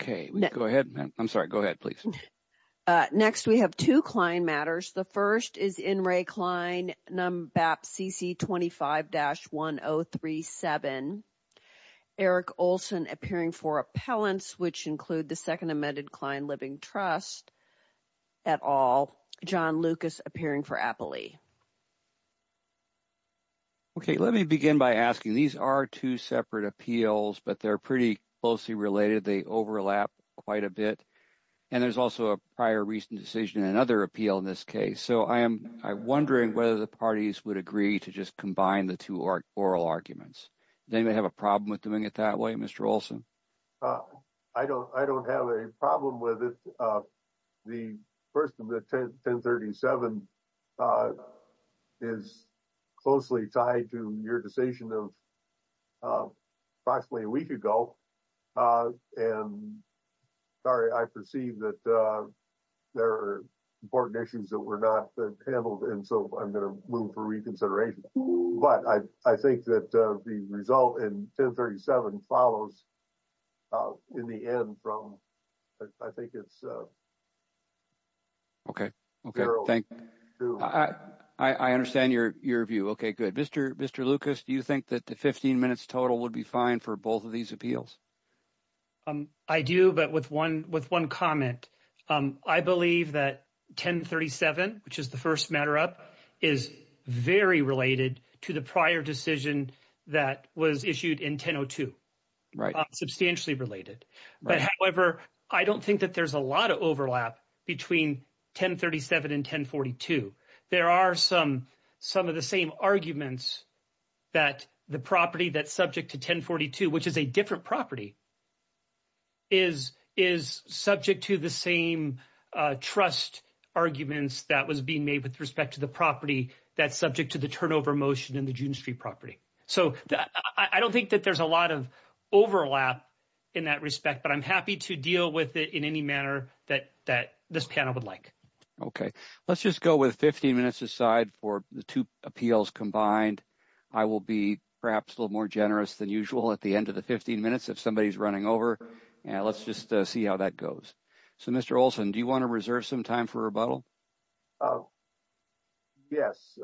Okay, go ahead. I'm sorry. Go ahead, please. Next, we have 2 client matters. The 1st is in Ray Klein num BAP CC 25 dash 1037. Eric Olson appearing for appellants, which include the 2nd amended client living trust. At all, John Lucas appearing for Appley. Okay, let me begin by asking these are 2 separate appeals, but they're pretty closely related. They overlap quite a bit. And there's also a prior recent decision and another appeal in this case. So I am wondering whether the parties would agree to just combine the 2 oral arguments. They may have a problem with doing it that way. Mr. Olson. I don't I don't have a problem with it. Uh, the 1st of the 10 1037, uh, is closely tied to your decision of, uh, approximately a week ago. Uh, and sorry, I perceive that, uh. There are important issues that were not handled and so I'm going to move for reconsideration, but I, I think that the result in 1037 follows. In the end from, I think it's. Okay, okay. Thank you. I understand your view. Okay. Good. Mr. Mr. Lucas. Do you think that the 15 minutes total would be fine for both of these appeals? I do, but with 1 with 1 comment, I believe that 1037, which is the 1st matter up is very related to the prior decision. That was issued in 1002, right? Substantially related. But however, I don't think that there's a lot of overlap between 1037 and 1042. there are some, some of the same arguments. That the property that subject to 1042, which is a different property. Is is subject to the same, uh, trust arguments that was being made with respect to the property that's subject to the turnover motion in the June street property so that I don't think that there's a lot of overlap in that respect, but I'm happy to deal with it in any manner that that this panel would like. Okay, let's just go with 15 minutes aside for the 2 appeals combined. I will be perhaps a little more generous than usual at the end of the 15 minutes. If somebody's running over, let's just see how that goes. So, Mr. Olson, do you want to reserve some time for rebuttal? Yes,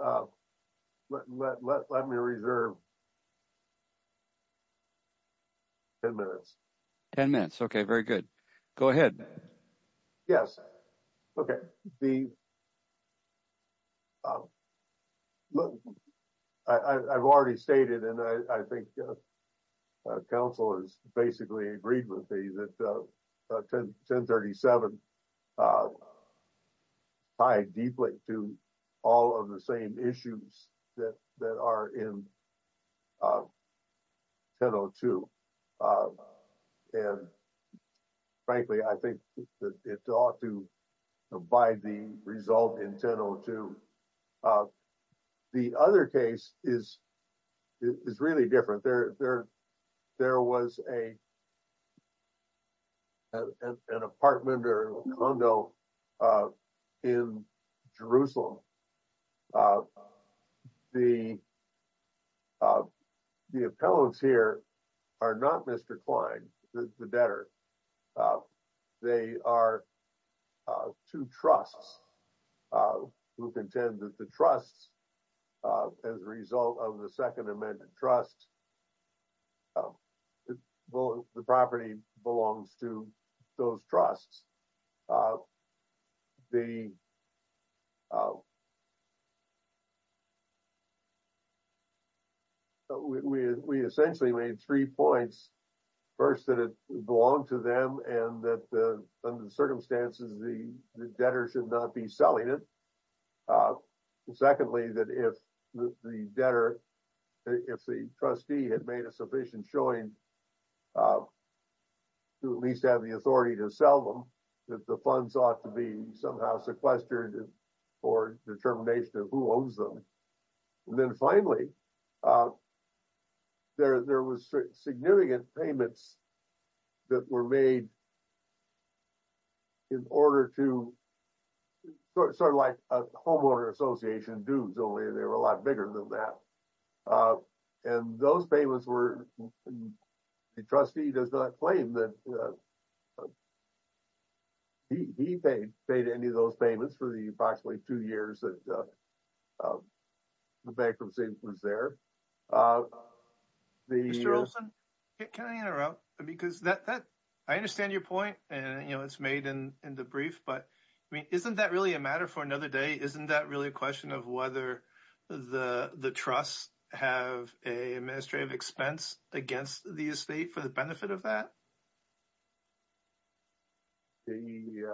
let let let me reserve. 10 minutes. 10 minutes. Okay. Very good. Go ahead. Yes. Okay, the look, I've already stated and I think council is basically agreed with me that 1037. I deeply to all of the same issues that that are in 1002. Uh, and frankly, I think that it ought to abide the result in 1002. The other case is. It is really different there. There was a. An apartment or a condo. Uh, in Jerusalem. Uh, the. Uh, the appellants here are not Mr Klein, the debtor. They are 2 trusts. Who contend that the trust. As a result of the 2nd amendment trust. The property belongs to. Those trusts, uh, the. Uh, we, we essentially made 3 points. 1st, that it belonged to them and that the circumstances, the debtor should not be selling it. Secondly, that if the debtor. If the trustee had made a sufficient showing. Uh, to at least have the authority to sell them. That the funds ought to be somehow sequestered. Or determination of who owns them and then finally. Uh, there, there was significant payments. That were made in order to. Sort of like a homeowner association dudes only they were a lot bigger than that. And those payments were the trustee does not claim that. He paid paid any of those payments for the approximately 2 years that. The bankruptcy was there. Uh, the. Can I interrupt because that that I understand your point and it's made in the brief, but. I mean, isn't that really a matter for another day? Isn't that really a question of whether the, the trust have a administrative expense against the estate for the benefit of that? Yeah,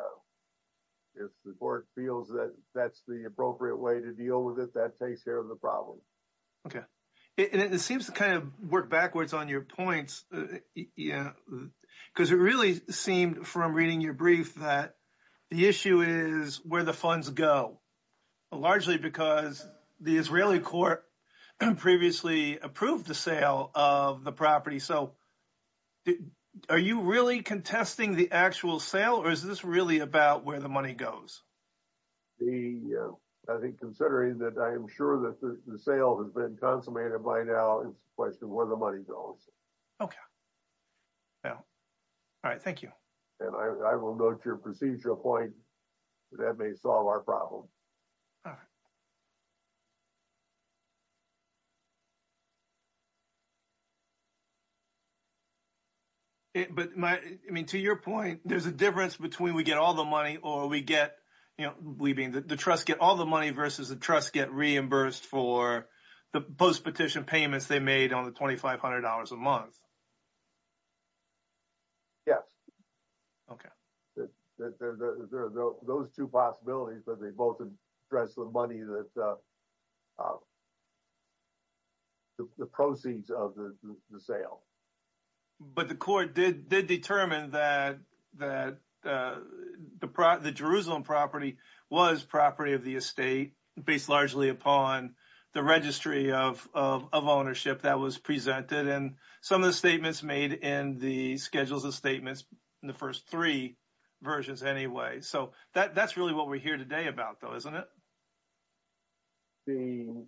if the board feels that that's the appropriate way to deal with it, that takes care of the problem. Okay, and it seems to kind of work backwards on your points. Yeah, because it really seemed from reading your brief that the issue is where the funds go. Largely, because the Israeli court previously approved the sale of the property. So. Are you really contesting the actual sale, or is this really about where the money goes? The, I think, considering that, I am sure that the sale has been consummated by now. It's a question of where the money goes. Okay, yeah. All right. Thank you. And I will note your procedure point that may solve our problem. All right, but, I mean, to your point, there's a difference between we get all the money, or we get leaving the trust, get all the money versus the trust get reimbursed for the post petition payments. They made on the 2500 dollars a month. Yes. Okay, there are those 2 possibilities, but they both address the money that. The proceeds of the sale. But the court did determine that that the Jerusalem property was property of the estate based largely upon the registry of ownership that was presented. And some of the statements made in the schedules of statements in the 1st, 3. Versions anyway, so that's really what we're here today about, though, isn't it? The.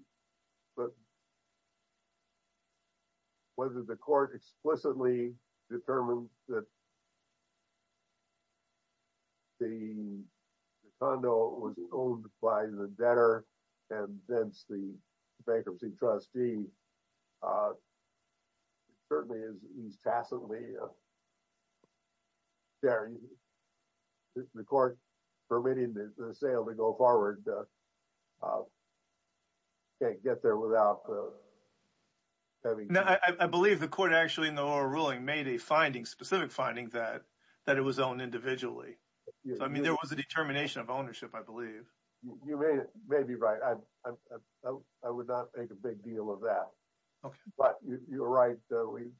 Whether the court explicitly determined that. The condo was owned by the better. And then the bankruptcy trustee. Uh, certainly is he's tacitly. The court permitted the sale to go forward. Can't get there without. I believe the court actually in the ruling made a finding specific finding that that it was owned individually. I mean, there was a determination of ownership. I believe you may be right. I, I would not make a big deal of that. Okay, but you're right. So we have.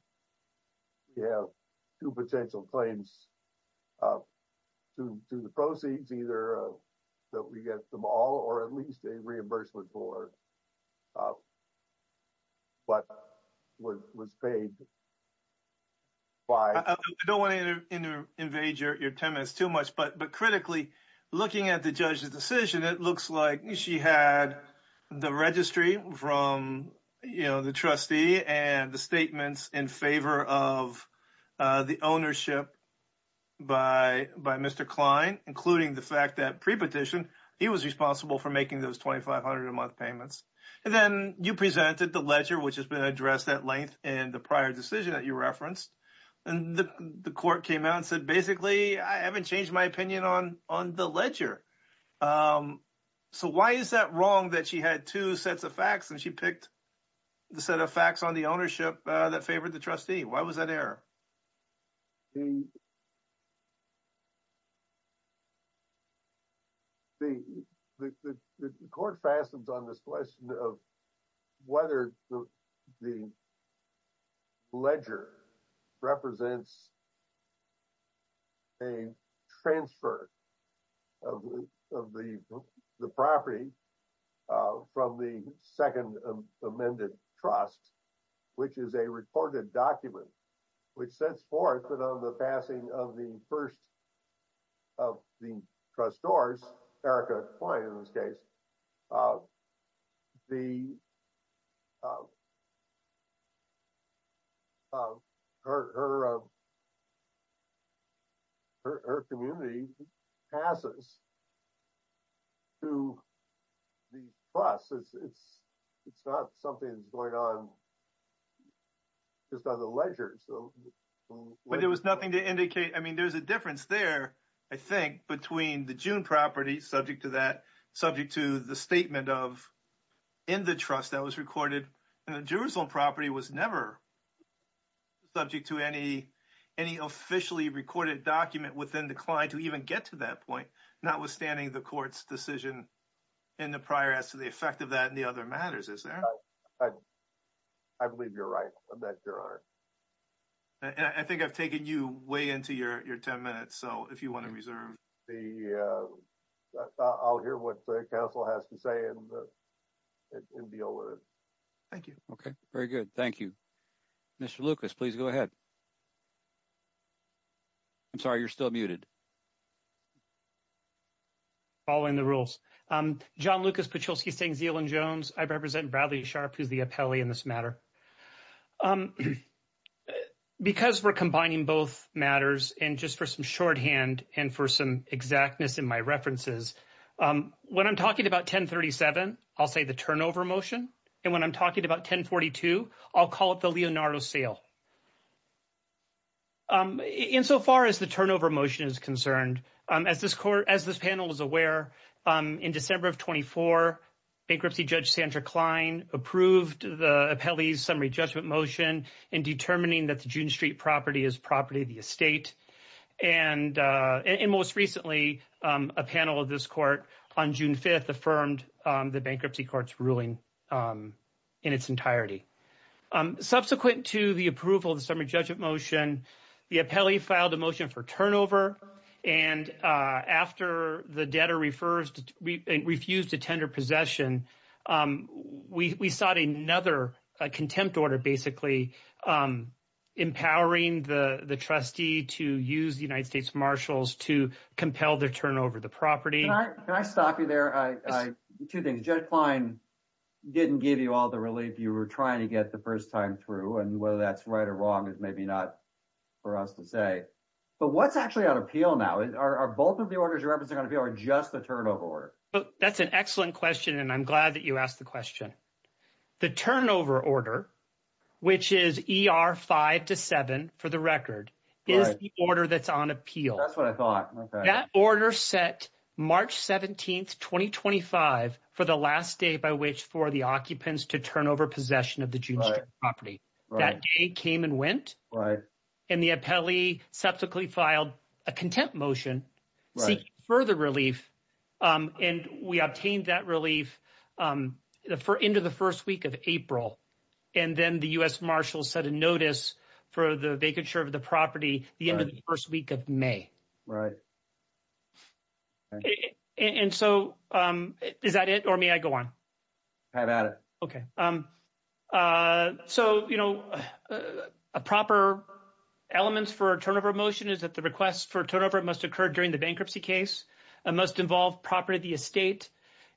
You have 2 potential claims. To do the proceeds either. So we get them all, or at least a reimbursement for. But was paid. Why don't want to invade your 10 minutes too much, but critically. Looking at the judge's decision, it looks like she had. The registry from the trustee and the statements in favor of. The ownership by by Mr. Klein, including the fact that pre petition. He was responsible for making those 2500 a month payments. And then you presented the ledger, which has been addressed at length and the prior decision that you referenced. And the court came out and said, basically, I haven't changed my opinion on on the ledger. So, why is that wrong that she had 2 sets of facts and she picked. The set of facts on the ownership that favored the trustee. Why was that error? The. The, the court fastens on this question of. Whether the the. Ledger represents. A transfer. Of the property. From the 2nd amended trust. Which is a recorded document, which says for it, but on the passing of the 1st. Of the trust stores, Erica client in this case. The. Her. Her community passes. To the process, it's. It's not something that's going on just on the ledger. So, but there was nothing to indicate. I mean, there's a difference there. I think between the June property subject to that subject to the statement of. In the trust that was recorded and the Jerusalem property was never. Subject to any, any officially recorded document within the client to even get to that point. Not withstanding the court's decision. In the prior as to the effect of that and the other matters is there. I believe you're right that there are, and I think I've taken you way into your 10 minutes. So if you want to reserve the. I'll hear what the council has to say and. It will be over. Thank you. Okay. Very good. Thank you. Mr. Lucas, please go ahead. I'm sorry. You're still muted. Following the rules, John Lucas, but you'll see things deal in Jones. I represent Bradley sharp. Who's the appellee in this matter? Because we're combining both matters and just for some shorthand and for some exactness in my references. Um, when I'm talking about 1037, I'll say the turnover motion. And when I'm talking about 1042, I'll call it the Leonardo sale. Um, insofar as the turnover motion is concerned, as this court, as this panel is aware in December of 24. Bankruptcy judge Sandra Klein approved the appellee's summary judgment motion in determining that the June street property is property of the estate. And and most recently, a panel of this court on June 5th, affirmed the bankruptcy courts ruling. In its entirety, subsequent to the approval of the summary judgment motion, the appellee filed a motion for turnover and after the debtor refers refused to tender possession, we sought another contempt order. Basically, um, empowering the, the trustee to use the United States marshals to compel their turnover. The property. Can I stop you there? I, I 2 things just fine. Didn't give you all the relief you were trying to get the 1st time through and whether that's right or wrong is maybe not. For us to say, but what's actually on appeal now are both of the orders are going to be are just the turnover order. That's an excellent question. And I'm glad that you asked the question. The turnover order, which is 5 to 7 for the record is the order that's on appeal. That's what I thought that order set March 17th, 2025 for the last day by which for the occupants to turn over possession of the June property that came and went right. And the appellee subsequently filed a contempt motion. Further relief, and we obtained that relief for into the 1st week of April. And then the US Marshall set a notice for the vacature of the property, the end of the 1st week of May. Right. And so is that it or me? I go on. Have at it. Okay, so, you know, a proper elements for a turnover motion is that the request for turnover must occur during the bankruptcy case and must involve property. The estate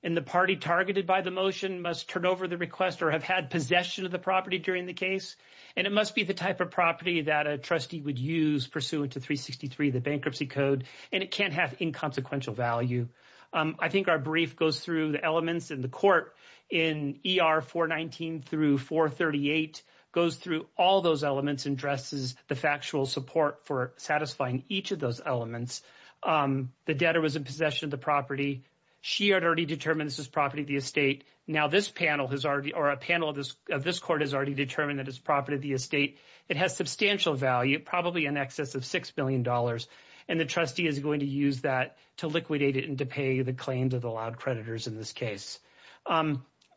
and the party targeted by the motion must turn over the request or have had possession of the property during the case. And it must be the type of property that a trustee would use pursuant to 363, the bankruptcy code, and it can't have inconsequential value. I think our brief goes through the elements in the court in ER, 419 through 438 goes through all those elements and dresses the factual support for satisfying each of those elements. The data was in possession of the property. She already determines his property. The estate. Now, this panel has already or a panel of this of this court has already determined that his property, the estate, it has substantial value, probably in excess of 6Billion dollars. And the trustee is going to use that to liquidate it and to pay the claims of the loud creditors. In this case,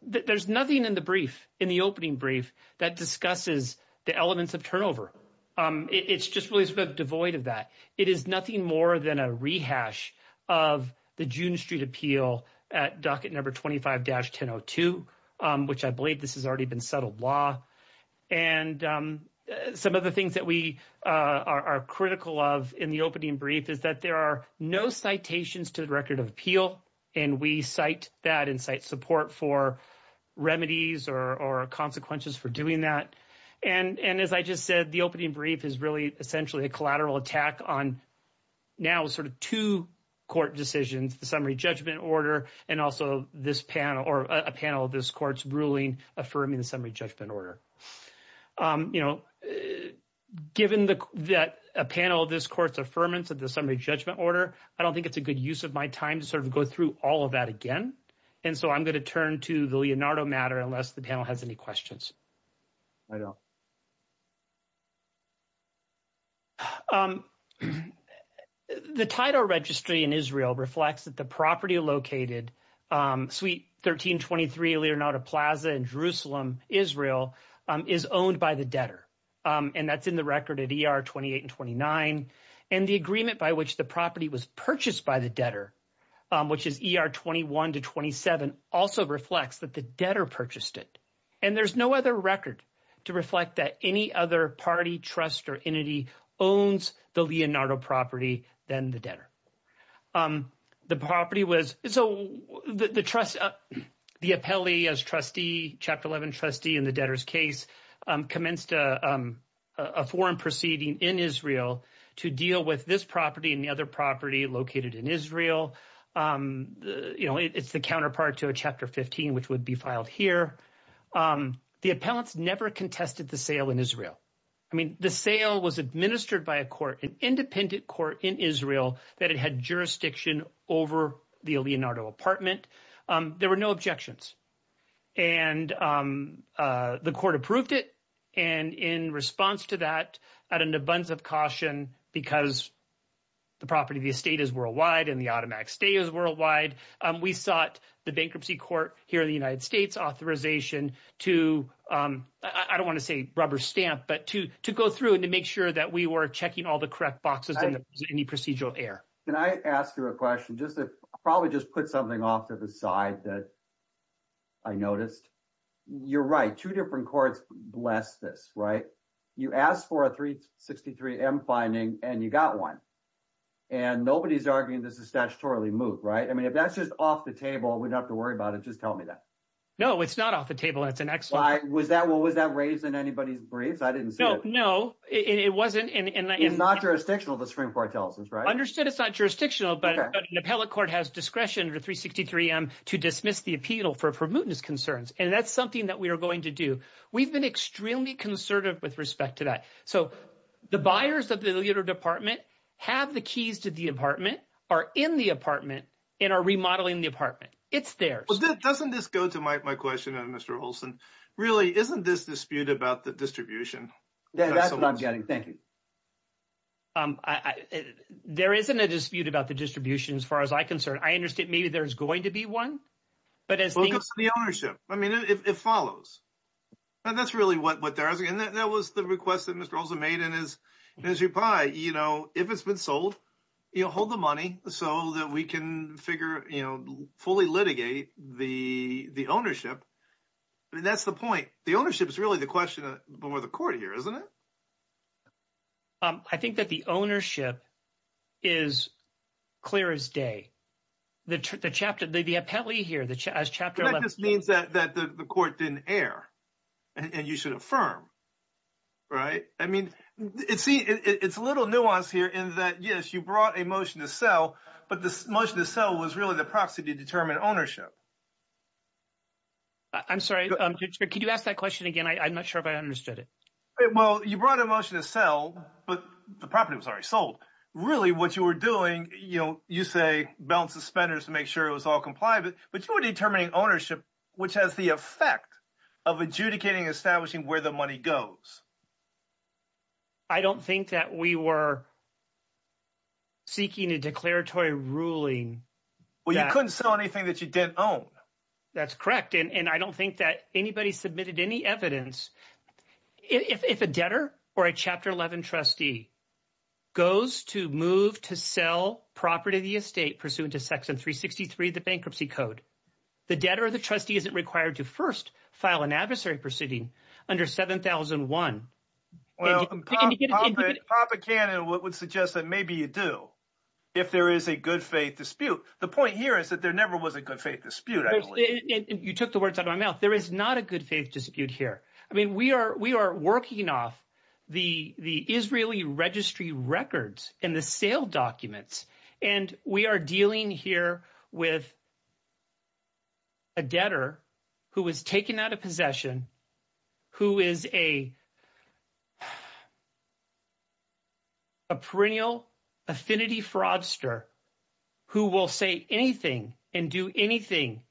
there's nothing in the brief in the opening brief that discusses the elements of turnover. It's just really sort of devoid of that. It is nothing more than a rehash of the June street appeal at docket number 25 dash 1002, which I believe this has already been settled law. And some of the things that we are critical of in the opening brief is that there are no citations to the record of appeal. And we cite that insight support for remedies or consequences for doing that. And as I just said, the opening brief is really essentially a collateral attack on. Now, sort of 2 court decisions, the summary judgment order, and also this panel or a panel of this court's ruling, affirming the summary judgment order, given that a panel of this court's affirmance of the summary judgment order, I don't think it's a good use of my time to sort of go through all of that again. And so I'm going to turn to the Leonardo matter, unless the panel has any questions. I don't the title registry in Israel reflects that the property located suite 1323, Leonardo Plaza in Jerusalem. Israel is owned by the debtor and that's in the record at 28 and 29 and the agreement by which the property was purchased by the debtor. Which is ER 21 to 27 also reflects that the debtor purchased it and there's no other record to reflect that any other party trust or entity owns the Leonardo property. Then the debtor. The property was so the trust the appellee as trustee chapter 11 trustee in the debtors case commenced a foreign proceeding in Israel to deal with this property and the other property located in Israel. Um, you know, it's the counterpart to a chapter 15, which would be filed here. The appellants never contested the sale in Israel. I mean, the sale was administered by a court, an independent court in Israel that it had jurisdiction over the Leonardo apartment. There were no objections. And, um, uh, the court approved it. And in response to that, at an abundance of caution, because. The property of the estate is worldwide and the automatic stay is worldwide. We sought the bankruptcy court here in the United States authorization to, um, I don't want to say rubber stamp, but to to go through and to make sure that we were checking all the correct boxes in any procedural air. Can I ask you a question just to probably just put something off to the side that. I noticed you're right. 2 different courts bless this right? You asked for a 363 M finding and you got 1. And nobody's arguing this is statutorily move, right? I mean, if that's just off the table, we'd have to worry about it. Just tell me that. No, it's not off the table. That's an excellent was that was that raised in anybody's briefs? I didn't know. No, it wasn't. And it's not jurisdictional. The Supreme Court tells us, right? Understood. It's not jurisdictional, but the appellate court has discretion to 363 M to dismiss the appeal for for mootness concerns. And that's something that we are going to do. We've been extremely concerted with respect to that. So the buyers of the leader department have the keys to the apartment are in the apartment and are remodeling the apartment. It's there. Well, that doesn't just go to my question. And Mr. Olson really isn't this dispute about the distribution. That's what I'm getting. Thank you. I, there isn't a dispute about the distribution as far as I'm concerned. I understand. Maybe there's going to be 1. But as the ownership, I mean, if it follows. And that's really what there is. And that was the request that Mr. Olson made in his. As you buy, you know, if it's been sold, you'll hold the money so that we can figure fully litigate the ownership. And that's the point. The ownership is really the question for the court here, isn't it? I think that the ownership is clear as day. The chapter, the appellee here, the chapter that just means that the court didn't air. And you should affirm, right? I mean, it's a little nuance here in that. Yes, you brought a motion to sell, but this motion to sell was really the proxy to determine ownership. I'm sorry, could you ask that question again? I'm not sure if I understood it. Well, you brought a motion to sell, but the property was already sold. Really what you were doing, you say, balance the spenders to make sure it was all compliant, but you were determining ownership. Which has the effect of adjudicating establishing where the money goes. I don't think that we were. Seeking a declaratory ruling. Well, you couldn't sell anything that you didn't own. That's correct. And I don't think that anybody submitted any evidence if a debtor or a chapter 11 trustee. Goes to move to sell property, the estate pursuant to section 363, the bankruptcy code. The debtor, the trustee isn't required to 1st file an adversary proceeding under 7001. Well, pop a can and what would suggest that maybe you do. If there is a good faith dispute, the point here is that there never was a good faith dispute. You took the words out of my mouth. There is not a good faith dispute here. I mean, we are we are working off. The the Israeli registry records in the sale documents, and we are dealing here with. A debtor who was taken out of possession. Who is a. A perennial affinity fraudster. Who will say anything and do anything.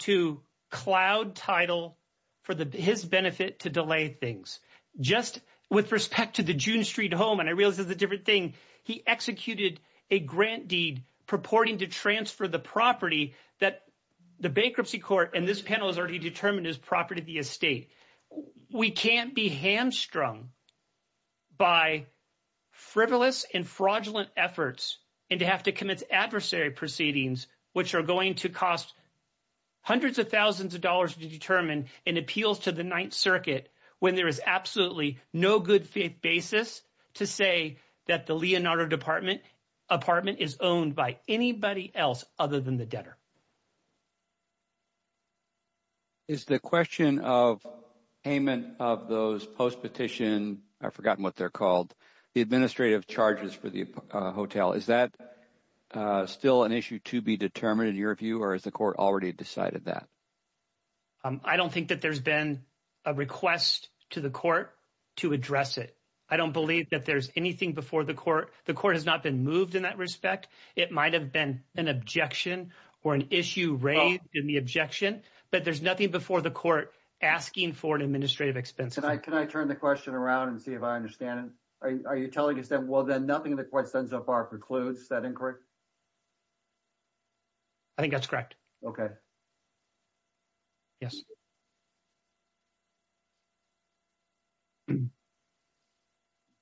To cloud title for the his benefit to delay things just with respect to the June Street home. And I realize that the different thing he executed a grant deed purporting to transfer the property that. The bankruptcy court and this panel is already determined his property. The estate we can't be hamstrung. By frivolous and fraudulent efforts and to have to commit adversary proceedings, which are going to cost. Hundreds of thousands of dollars to determine and appeals to the 9th circuit when there is absolutely no good faith basis to say that the Leonardo department. Apartment is owned by anybody else other than the debtor. Is the question of payment of those post petition? I've forgotten what they're called the administrative charges for the hotel. Is that still an issue to be determined in your view? Or is the court already decided that? I don't think that there's been a request to the court to address it. I don't believe that there's anything before the court. The court has not been moved in that respect. It might have been an objection or an issue raised in the objection, but there's nothing before the court asking for an administrative expense. Can I can I turn the question around and see if I understand it? Are you telling us that? Well, then nothing in the question so far precludes that inquiry. I think that's correct. Okay. Yes.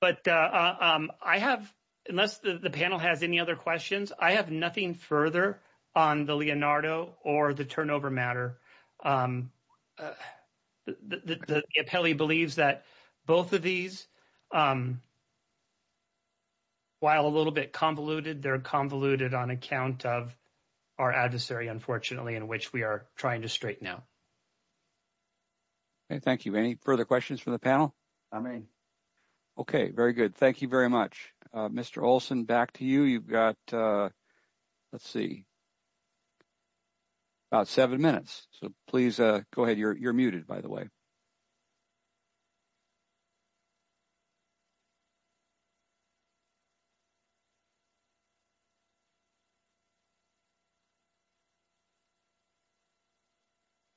But I have, unless the panel has any other questions, I have nothing further on the Leonardo or the turnover matter. The appellee believes that both of these. While a little bit convoluted, they're convoluted on account of our adversary, unfortunately, in which we are trying to straighten out. Okay, thank you. Any further questions for the panel? I mean, okay, very good. Thank you very much. Mr. Olson back to you. You've got, let's see. About 7 minutes, so please go ahead. You're you're muted by the way.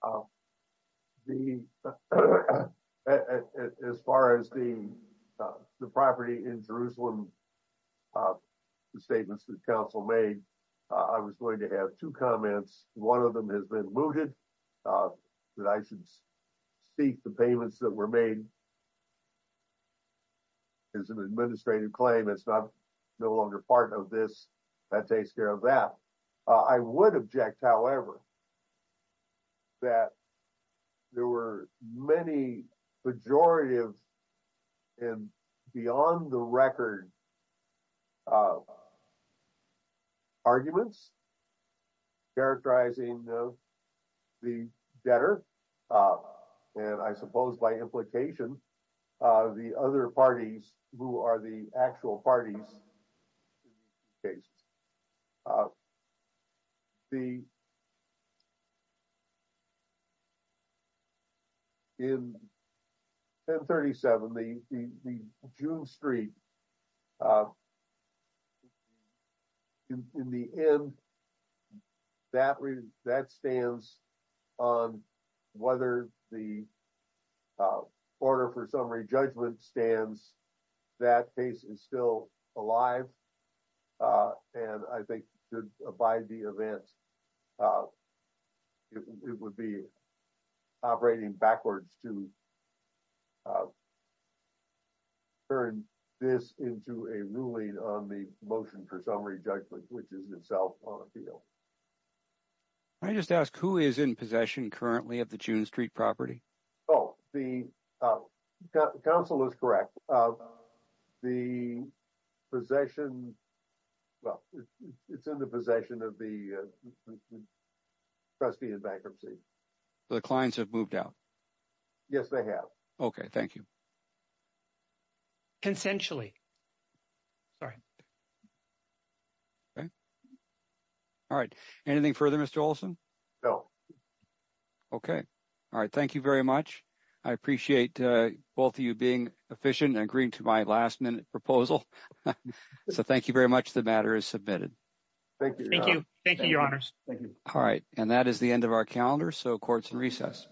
Okay. As far as the property in Jerusalem. Statements that Council made. I was going to have two comments. One of them has been looted. That I should speak the payments that were made. Is an administrative claim. It's not no longer part of this that takes care of that I would object, however. That there were many majority of and beyond the record. Arguments. Characterizing the debtor. And I suppose by implication, the other parties who are the actual parties. The In 1037 the June Street. In the end. That read that stands on whether the Order for summary judgment stands that case is still alive. And I think by the event. It would be operating backwards to Turn this into a ruling on the motion for summary judgment, which is itself on a field. I just ask who is in possession currently at the June Street property. Oh, the council is correct. The possession. Well, it's in the possession of the. Trust me, the bankruptcy, the clients have moved out. Yes, they have. Okay. Thank you. Consentually. All right. Anything further Mr. Olson. Okay. All right. Thank you very much. I appreciate both of you being efficient and agreeing to my last minute proposal. So thank you very much. The matter is submitted. Thank you. Thank you. Thank you. Your honors. Thank you. All right. And that is the end of our calendar. So courts and recess.